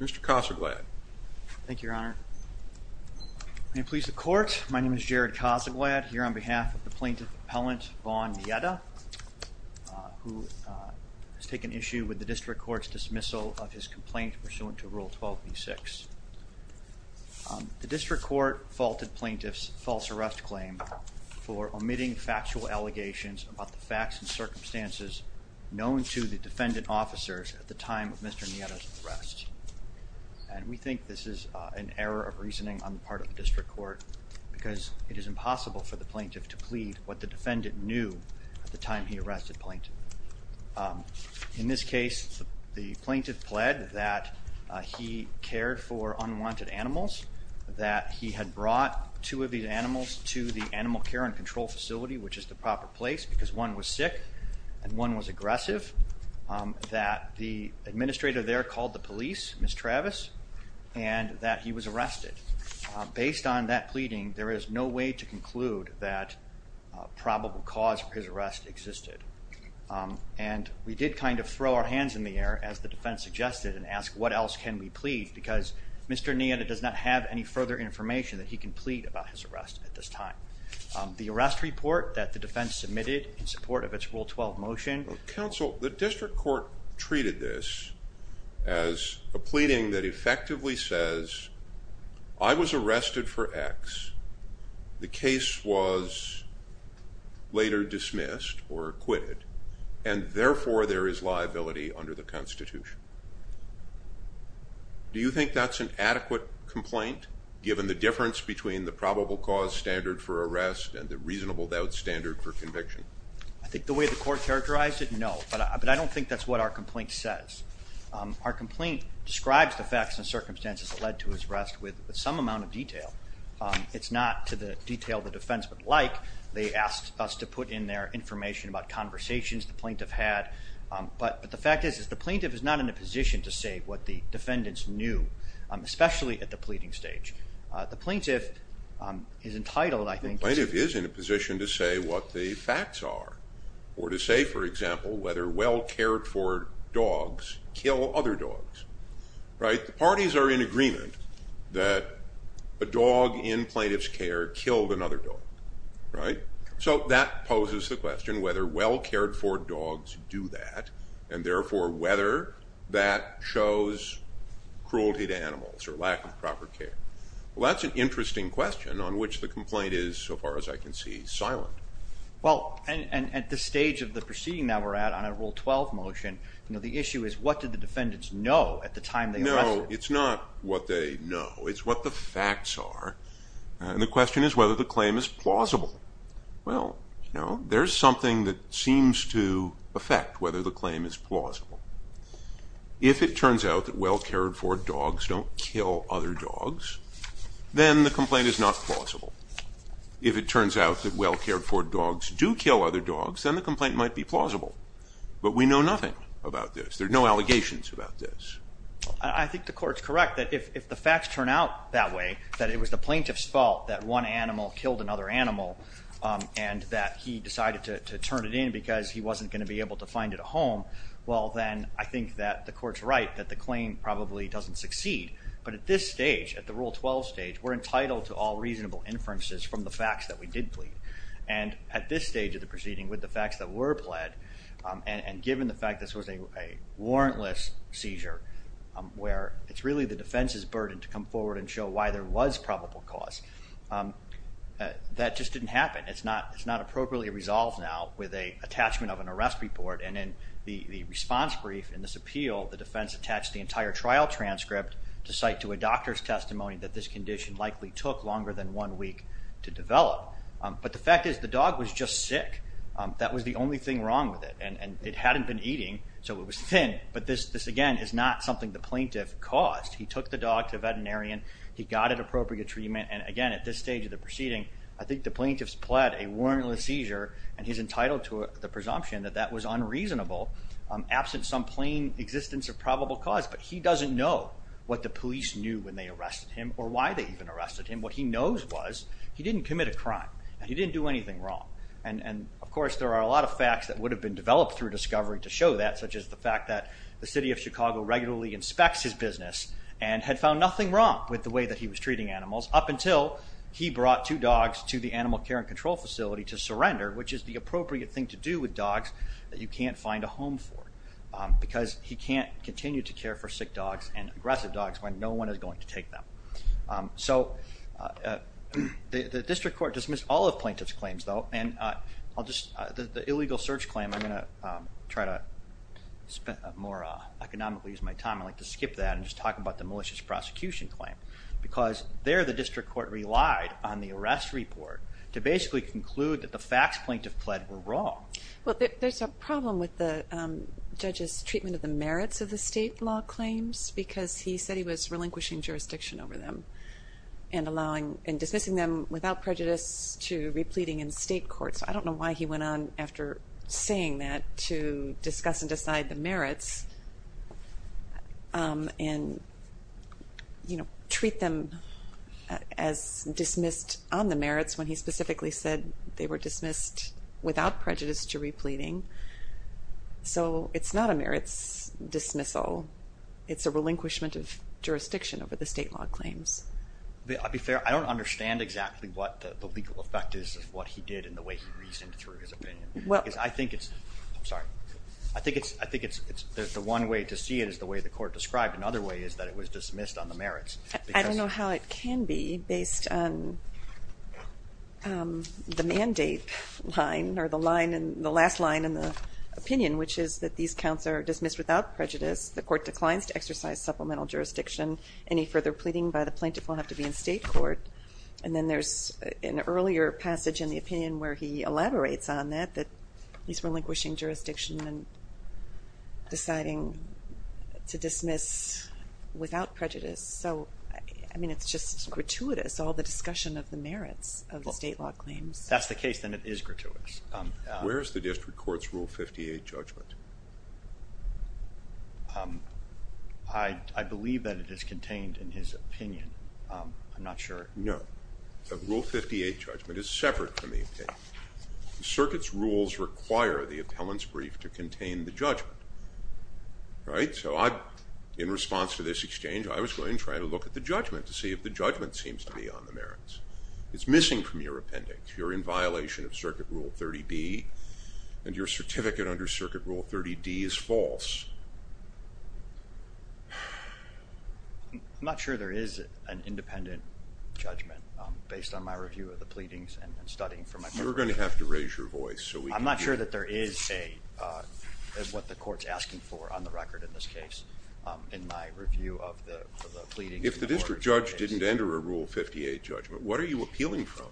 Mr. Cossaglad. Thank you, Your Honor. May it please the Court, my name is Jared Cossaglad, here on behalf of the plaintiff appellant, Vaughn Neita, who has taken issue with the District Court's dismissal of his complaint pursuant to Rule 12b6. The District Court faulted plaintiff's false arrest claim for omitting factual allegations about the facts and circumstances known to the defendant officers at the time of Mr. Neita's arrest, and we think this is an error of reasoning on the part of the District Court because it is impossible for the plaintiff to plead what the defendant knew at the time he arrested plaintiff. In this case, the plaintiff pled that he cared for unwanted animals, that he had brought two of these animals to the animal care and control facility, which is the proper place, because one was sick and one was aggressive, that the administrator there called the police, Ms. Travis, and that he was arrested. Based on that pleading, there is no way to conclude that probable cause for his arrest. And we did kind of throw our hands in the air, as the defense suggested, and ask what else can we plead, because Mr. Neita does not have any further information that he can plead about his arrest at this time. The arrest report that the defense submitted in support of its Rule 12 motion... Counsel, the District Court treated this as a pleading that effectively says, I was arrested for X, the case was later dismissed or acquitted, and therefore there is liability under the Constitution. Do you think that's an adequate complaint, given the difference between the probable cause standard for arrest and the reasonable doubt standard for conviction? I think the way the court characterized it, no, but I don't think that's what our complaint says. Our complaint describes the facts and circumstances that led to his arrest with some amount of detail. It's not to the detail the defense would like. They asked us to put in there information about conversations the plaintiff had, but the fact is, is the plaintiff is not in a position to say what the defendants knew, especially at the pleading stage. The plaintiff is entitled, I think... The plaintiff is in a position to say what the facts are, or to say, for example, whether well-cared for dogs kill other dogs, right? The parties are in agreement that a dog in plaintiff's care killed another dog, right? So that poses the question, whether well-cared for dogs do that, and therefore whether that shows cruelty to animals or lack of proper care. Well, that's an interesting question on which the complaint is, so far as I can see, silent. Well, and at the stage of the Article 12 motion, you know, the issue is, what did the defendants know at the time they arrested? No, it's not what they know. It's what the facts are, and the question is whether the claim is plausible. Well, you know, there's something that seems to affect whether the claim is plausible. If it turns out that well-cared for dogs don't kill other dogs, then the complaint is not plausible. If it turns out that well-cared for dogs do kill other dogs, then the complaint might be plausible, but we know nothing about this. There are no allegations about this. I think the court's correct that if the facts turn out that way, that it was the plaintiff's fault that one animal killed another animal, and that he decided to turn it in because he wasn't going to be able to find it a home, well, then I think that the court's right that the claim probably doesn't succeed. But at this stage, at the Rule 12 stage, we're entitled to all reasonable inferences from the facts that we did plead. And at this stage of the proceeding, with the facts that were pled, and given the fact this was a warrantless seizure, where it's really the defense's burden to come forward and show why there was probable cause, that just didn't happen. It's not it's not appropriately resolved now with an attachment of an arrest report, and in the response brief in this appeal, the defense attached the entire trial transcript to cite to a doctor's week to develop. But the fact is, the dog was just sick. That was the only thing wrong with it, and it hadn't been eating, so it was thin. But this again is not something the plaintiff caused. He took the dog to a veterinarian, he got it appropriate treatment, and again, at this stage of the proceeding, I think the plaintiff's pled a warrantless seizure, and he's entitled to the presumption that that was unreasonable, absent some plain existence of probable cause. But he doesn't know what the police knew when they arrested him, or why they even arrested him. What he knows was he didn't commit a crime, and he didn't do anything wrong. And of course, there are a lot of facts that would have been developed through discovery to show that, such as the fact that the city of Chicago regularly inspects his business, and had found nothing wrong with the way that he was treating animals, up until he brought two dogs to the animal care and control facility to surrender, which is the appropriate thing to do with dogs that you can't find a home for, because he can't continue to care for sick dogs and aggressive dogs when no one is going to So the district court dismissed all of plaintiff's claims though, and I'll just, the illegal search claim, I'm going to try to spend more economically use my time. I'd like to skip that and just talk about the malicious prosecution claim, because there the district court relied on the arrest report to basically conclude that the facts plaintiff pled were wrong. Well there's a problem with the judge's treatment of the merits of the state law claims, because he said he was relinquishing jurisdiction over them, and allowing, and dismissing them without prejudice to repleting in state court. So I don't know why he went on after saying that to discuss and decide the merits, and you know, treat them as dismissed on the merits when he specifically said they were dismissed without prejudice to repleting. So it's not a merits dismissal, it's a relinquishment of jurisdiction over the state law claims. I'll be fair, I don't understand exactly what the legal effect is of what he did and the way he reasoned through his opinion. Well, I think it's, I'm sorry, I think it's, I think it's the one way to see it is the way the court described, another way is that it was dismissed on the merits. I don't know how it can be based on the mandate line, or the line, and the last line in the opinion, which is that these counts are to exercise supplemental jurisdiction. Any further pleading by the plaintiff will have to be in state court, and then there's an earlier passage in the opinion where he elaborates on that, that he's relinquishing jurisdiction and deciding to dismiss without prejudice. So I mean it's just gratuitous, all the discussion of the merits of the state law claims. That's the case, then it is I believe that it is contained in his opinion, I'm not sure. No, the Rule 58 judgment is separate from the opinion. The circuit's rules require the appellant's brief to contain the judgment, right? So I, in response to this exchange, I was going to try to look at the judgment to see if the judgment seems to be on the merits. It's missing from your appendix. You're in violation of Circuit Rule 30B, and your certificate under Circuit Rule 30D is false. I'm not sure there is an independent judgment based on my review of the pleadings and studying. You're going to have to raise your voice. I'm not sure that there is a, what the court's asking for on the record in this case, in my review of the pleadings. If the district judge didn't enter a Rule 58 judgment, what are you appealing from?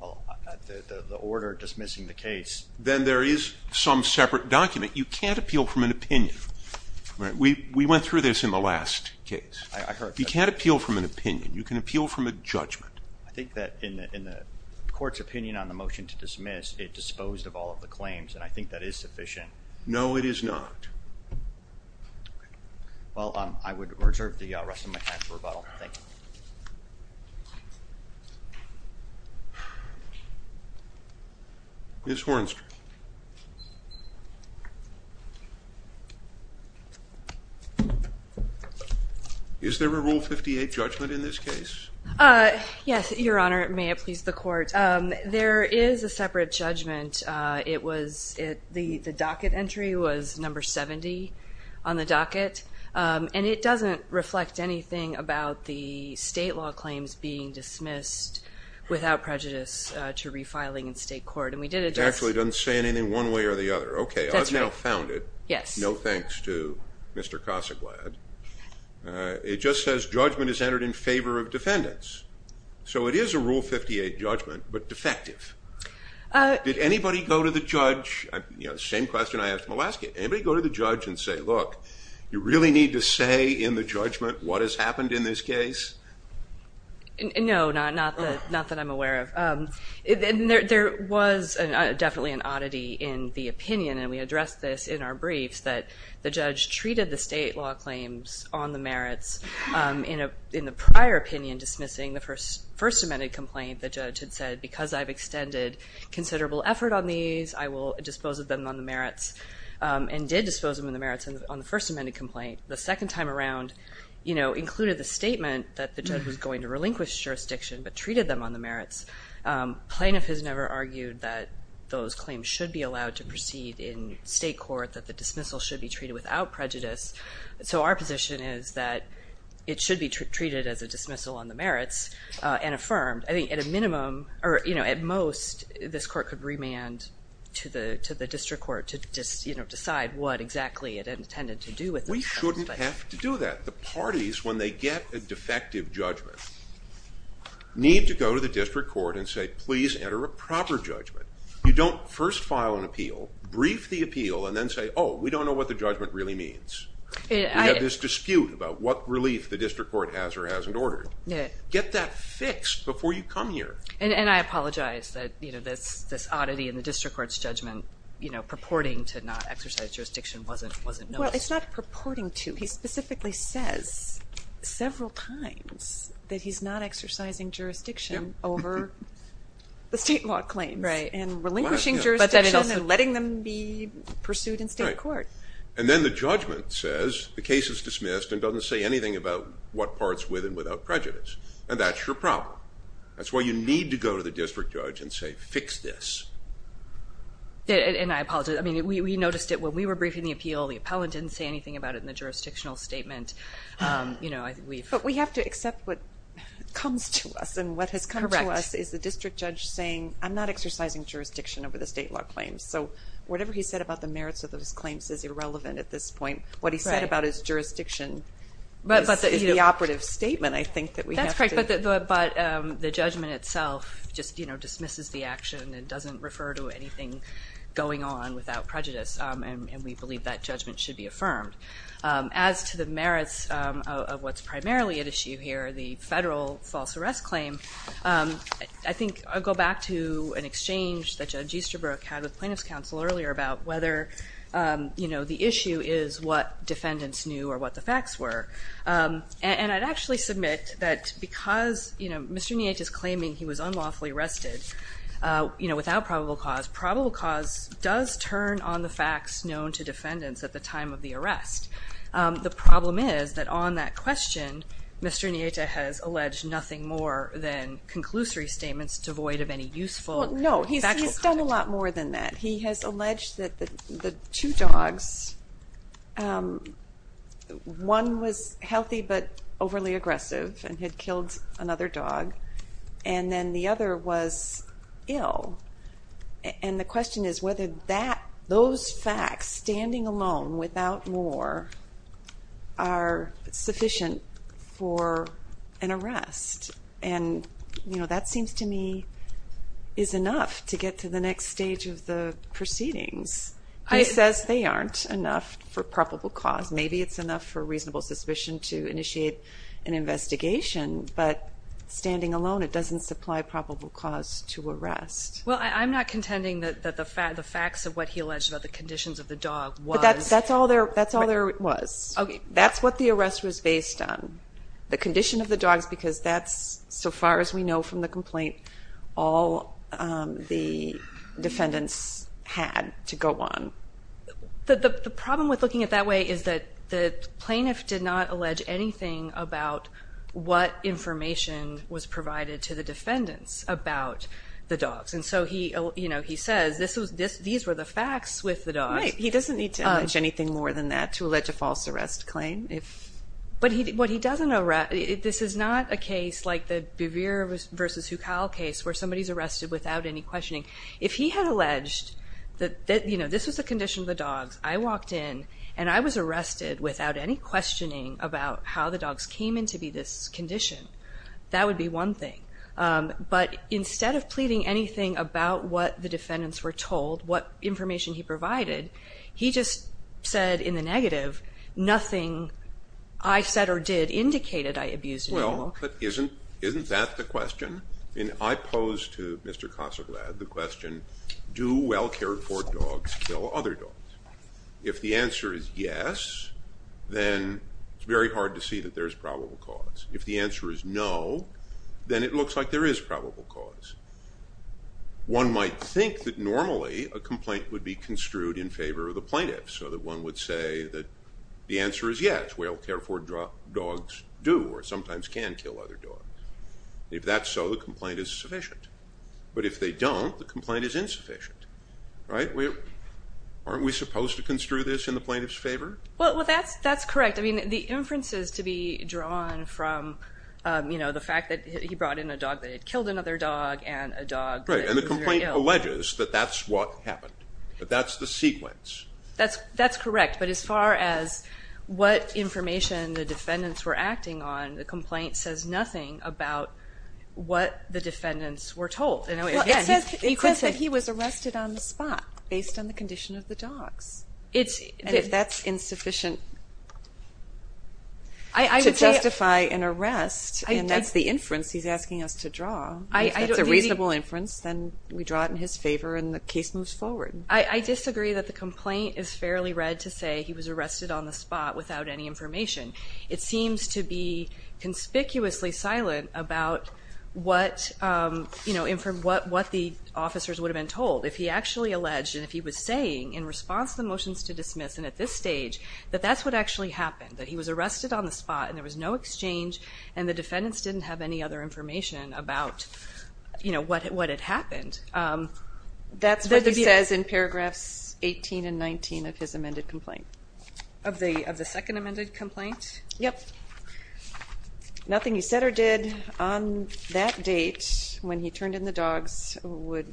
Well, the order dismissing the case. Then there is some separate document. You can't appeal from an opinion. We went through this in the last case. You can't appeal from an opinion. You can appeal from a judgment. I think that in the court's opinion on the motion to dismiss, it disposed of all of the claims, and I think that is sufficient. No, it is not. Well, I would reserve the motion. Ms. Hornster, is there a Rule 58 judgment in this case? Yes, Your Honor. May it please the court. There is a separate judgment. The docket entry was number 70 on the docket, and it doesn't reflect anything about the prejudice to refiling in state court, and we did address... It actually doesn't say anything one way or the other. Okay, I've now found it. Yes. No thanks to Mr. Cossaglad. It just says judgment is entered in favor of defendants, so it is a Rule 58 judgment, but defective. Did anybody go to the judge? You know, same question I asked in the last case. Anybody go to the judge and say, look, you really need to say in the judgment what has happened in this case? No, not that I'm aware of. There was definitely an oddity in the opinion, and we addressed this in our briefs, that the judge treated the state law claims on the merits. In the prior opinion dismissing the First Amendment complaint, the judge had said, because I've extended considerable effort on these, I will dispose of them on the merits, and did dispose of them in the merits on the First Amendment complaint. The second time around, you know, included the statement that the judge was going to relinquish jurisdiction, but plaintiff has never argued that those claims should be allowed to proceed in state court, that the dismissal should be treated without prejudice. So our position is that it should be treated as a dismissal on the merits and affirmed. I think at a minimum, or you know, at most, this court could remand to the district court to just, you know, decide what exactly it intended to do with the plaintiff. We shouldn't have to do that. The parties, when they get a defective judgment, need to go to the district court and say, please enter a proper judgment. You don't first file an appeal, brief the appeal, and then say, oh, we don't know what the judgment really means. We have this dispute about what relief the district court has or hasn't ordered. Get that fixed before you come here. And I apologize that, you know, this oddity in the district court's judgment, you know, purporting to not exercise jurisdiction wasn't noticed. Well, it's not purporting to. He specifically says several times that he's not exercising jurisdiction over the state law claims. Right. And relinquishing jurisdiction and letting them be pursued in state court. And then the judgment says the case is dismissed and doesn't say anything about what parts with and without prejudice. And that's your problem. That's why you need to go to the district judge and say, fix this. And I apologize. I mean, we noticed it when we were briefing the appeal. The appellant didn't say anything about it in the jurisdictional statement. You know, I think we've... But we have to accept what comes to us and what has come to us is the district judge saying, I'm not exercising jurisdiction over the state law claims. So whatever he said about the merits of those claims is irrelevant at this point. What he said about his jurisdiction is the operative statement, I think, that we have to... That's correct, but the judgment itself just, you know, dismisses the action and doesn't refer to anything going on without prejudice. And we believe that judgment should be affirmed. As to the merits of what's primarily at issue here, the federal false arrest claim, I think I'll go back to an exchange that Judge Easterbrook had with plaintiffs counsel earlier about whether, you know, the issue is what defendants knew or what the facts were. And I'd actually submit that because, you know, Mr. Neate is claiming he was unlawfully arrested, you know, without probable cause, probable cause does turn on the facts known to defendants at the time of the arrest. The problem is that on that question, Mr. Neate has alleged nothing more than conclusory statements devoid of any useful factual content. No, he's done a lot more than that. He has alleged that the two dogs, one was healthy but overly aggressive and had the other was ill. And the question is whether that, those facts, standing alone without more, are sufficient for an arrest. And, you know, that seems to me is enough to get to the next stage of the proceedings. He says they aren't enough for probable cause. Maybe it's enough for reasonable suspicion to initiate an investigation, but standing alone it doesn't supply probable cause. Well, I'm not contending that the facts of what he alleged about the conditions of the dog was... That's all there was. That's what the arrest was based on, the condition of the dogs, because that's, so far as we know from the complaint, all the defendants had to go on. The problem with looking at it that way is that the plaintiff did not allege anything about what information was provided to the defendants about the dogs. And so he, you know, he says this was, these were the facts with the dogs. Right. He doesn't need to allege anything more than that to allege a false arrest claim. But what he doesn't, this is not a case like the Bevere versus Hukal case where somebody's arrested without any questioning. If he had alleged that, you know, this was the condition of the dogs, I walked in and I was arrested without any questioning about how the dogs came in to be this condition. That would be one thing. But instead of pleading anything about what the defendants were told, what information he provided, he just said in the negative, nothing I said or did indicated I abused an animal. But isn't, isn't that the question? And I pose to Mr. Kasoglad the question, do well-cared for dogs kill other dogs? If the answer is yes, then it's very hard to see that there's probable cause. If the answer is no, then it looks like there is probable cause. One might think that normally a complaint would be construed in favor of the plaintiff, so that one would say that the answer is yes, well-cared for dogs do or sometimes can kill other dogs. If that's so, the complaint is sufficient. But if they don't, the complaint is insufficient. Right? Aren't we supposed to construe this in the plaintiff's favor? Well, that's correct. I mean, the inferences to be drawn from, you know, the fact that he brought in a dog that had killed another dog and a dog that was very ill. Right. And the complaint alleges that that's what happened. That's the sequence. That's correct. But as far as what information the defendants were acting on, the complaint says nothing about what the defendants were told. It says that he was arrested on the spot based on the condition of the dogs. And if that's insufficient to justify an arrest, and that's the inference he's asking us to draw, if that's a reasonable inference, then we draw it in his favor and the case moves forward. I disagree that the complaint is fairly read to say he was arrested on the spot without any information. It seems to be conspicuously silent about what, you know, what the officers would have been told. If he actually alleged, and if he was saying in response to the motions to dismiss, and at this stage, that that's what actually happened, that he was arrested on the spot and there was no exchange and the defendants didn't have any other information about, you know, what had happened. That's what he says in paragraphs 18 and 19 of his amended complaint. Of the second amended complaint? Yep. Nothing he said or did on that date when he turned in the dogs would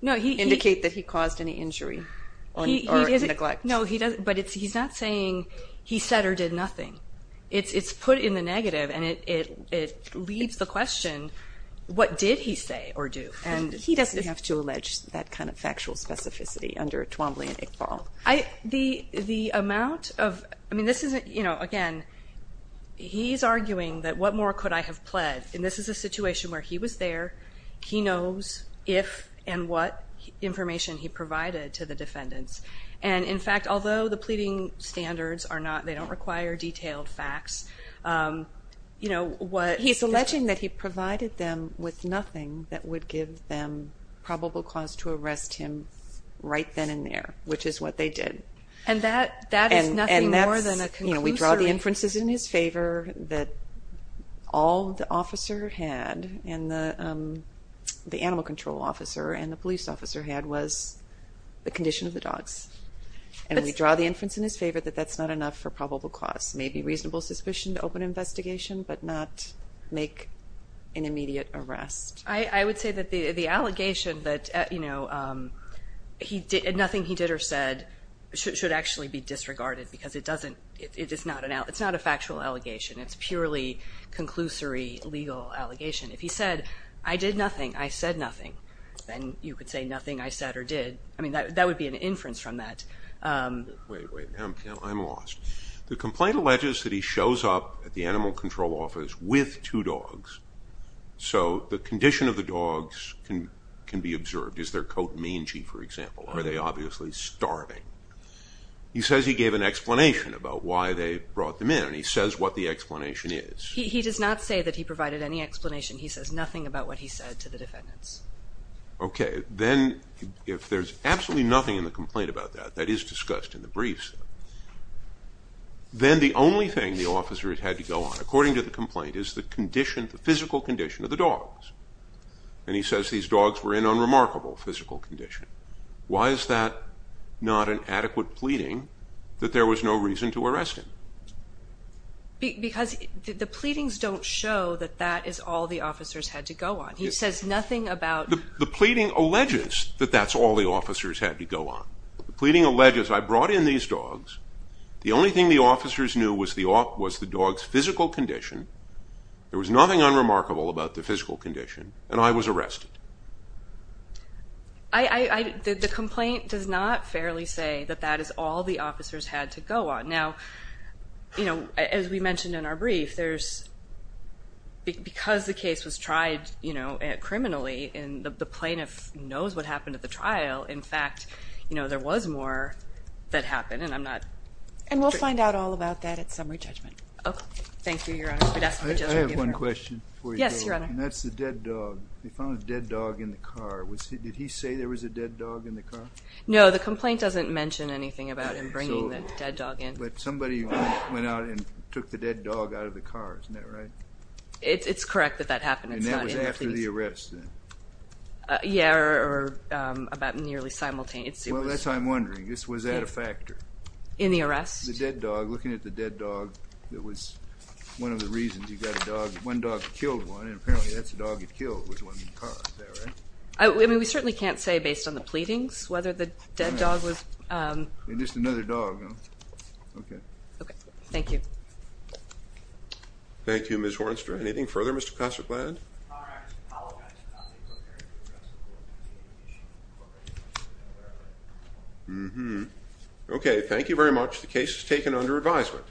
indicate that he caused any injury or neglect. No, but he's not saying he said or did nothing. It's put in the negative and it leaves the question, what did he say or do? He doesn't have to allege that kind of factual specificity under Twombly and Iqbal. The amount of, I mean, this isn't, you know, again, he's arguing that what more could I have pled? And this is a situation where he was there, he knows if and what information he provided to the defendants. And in fact, although the pleading standards are not, they don't require detailed facts, you know, what... He's arguing that he provided them with nothing that would give them probable cause to arrest him right then and there, which is what they did. And that is nothing more than a conclusion. And that's, you know, we draw the inferences in his favor that all the officer had and the animal control officer and the police officer had was the condition of the dogs. And we draw the inference in his favor that that's not enough for probable cause. Maybe reasonable suspicion to open investigation, but not make an immediate arrest. I would say that the allegation that, you know, nothing he did or said should actually be disregarded because it doesn't, it's not a factual allegation. It's purely conclusory legal allegation. If he said, I did nothing, I said nothing, then you could say nothing I said or did. I mean, that would be an inference from that. Wait, wait, I'm lost. The complaint alleges that he shows up at the animal control office with two dogs. So the condition of the dogs can be observed. Is their coat mangy, for example? Are they obviously starving? He says he gave an explanation about why they brought them in, and he says what the explanation is. He does not say that he provided any explanation. He says nothing about what he said to the defendants. Okay, then if there's absolutely nothing in the complaint about that, that is discussed in the briefs, then the only thing the officer had to go on, according to the complaint, is the condition, the physical condition of the dogs. And he says these dogs were in unremarkable physical condition. Why is that not an adequate pleading that there was no reason to arrest him? Because the pleadings don't show that that is all the officers had to go on. He says nothing about... The pleading alleges that that's all the officers had to go on. The pleading alleges, I brought in these dogs. The only thing the officers knew was the dogs' physical condition. There was nothing unremarkable about the physical condition, and I was arrested. The complaint does not fairly say that that is all the officers had to go on. Now, as we mentioned in our brief, because the case was tried criminally, and the plaintiff knows what happened at the trial, in fact, there was more that happened, and I'm not... And we'll find out all about that at summary judgment. Okay. Thank you, Your Honor. I have one question before you go. Yes, Your Honor. And that's the dead dog. They found a dead dog in the car. Did he say there was a dead dog in the car? No, the complaint doesn't mention anything about him bringing the dead dog in. But somebody went out and took the dead dog out of the car. Isn't that right? It's correct that that happened. And that was after the arrest, then? Yeah, or about nearly simultaneously. Well, that's what I'm wondering. Was that a factor? In the arrest? The dead dog, looking at the dead dog, it was one of the reasons you got a dog. One dog killed one, and apparently that's the dog that killed was one in the car. Is that right? I mean, we certainly can't say based on the pleadings whether the dead dog was... It's just another dog, no? Okay. Okay. Thank you. Thank you, Ms. Hornster. Anything further, Mr. Kosselkland? Mm-hmm. Okay, thank you very much. The case is taken under advisement.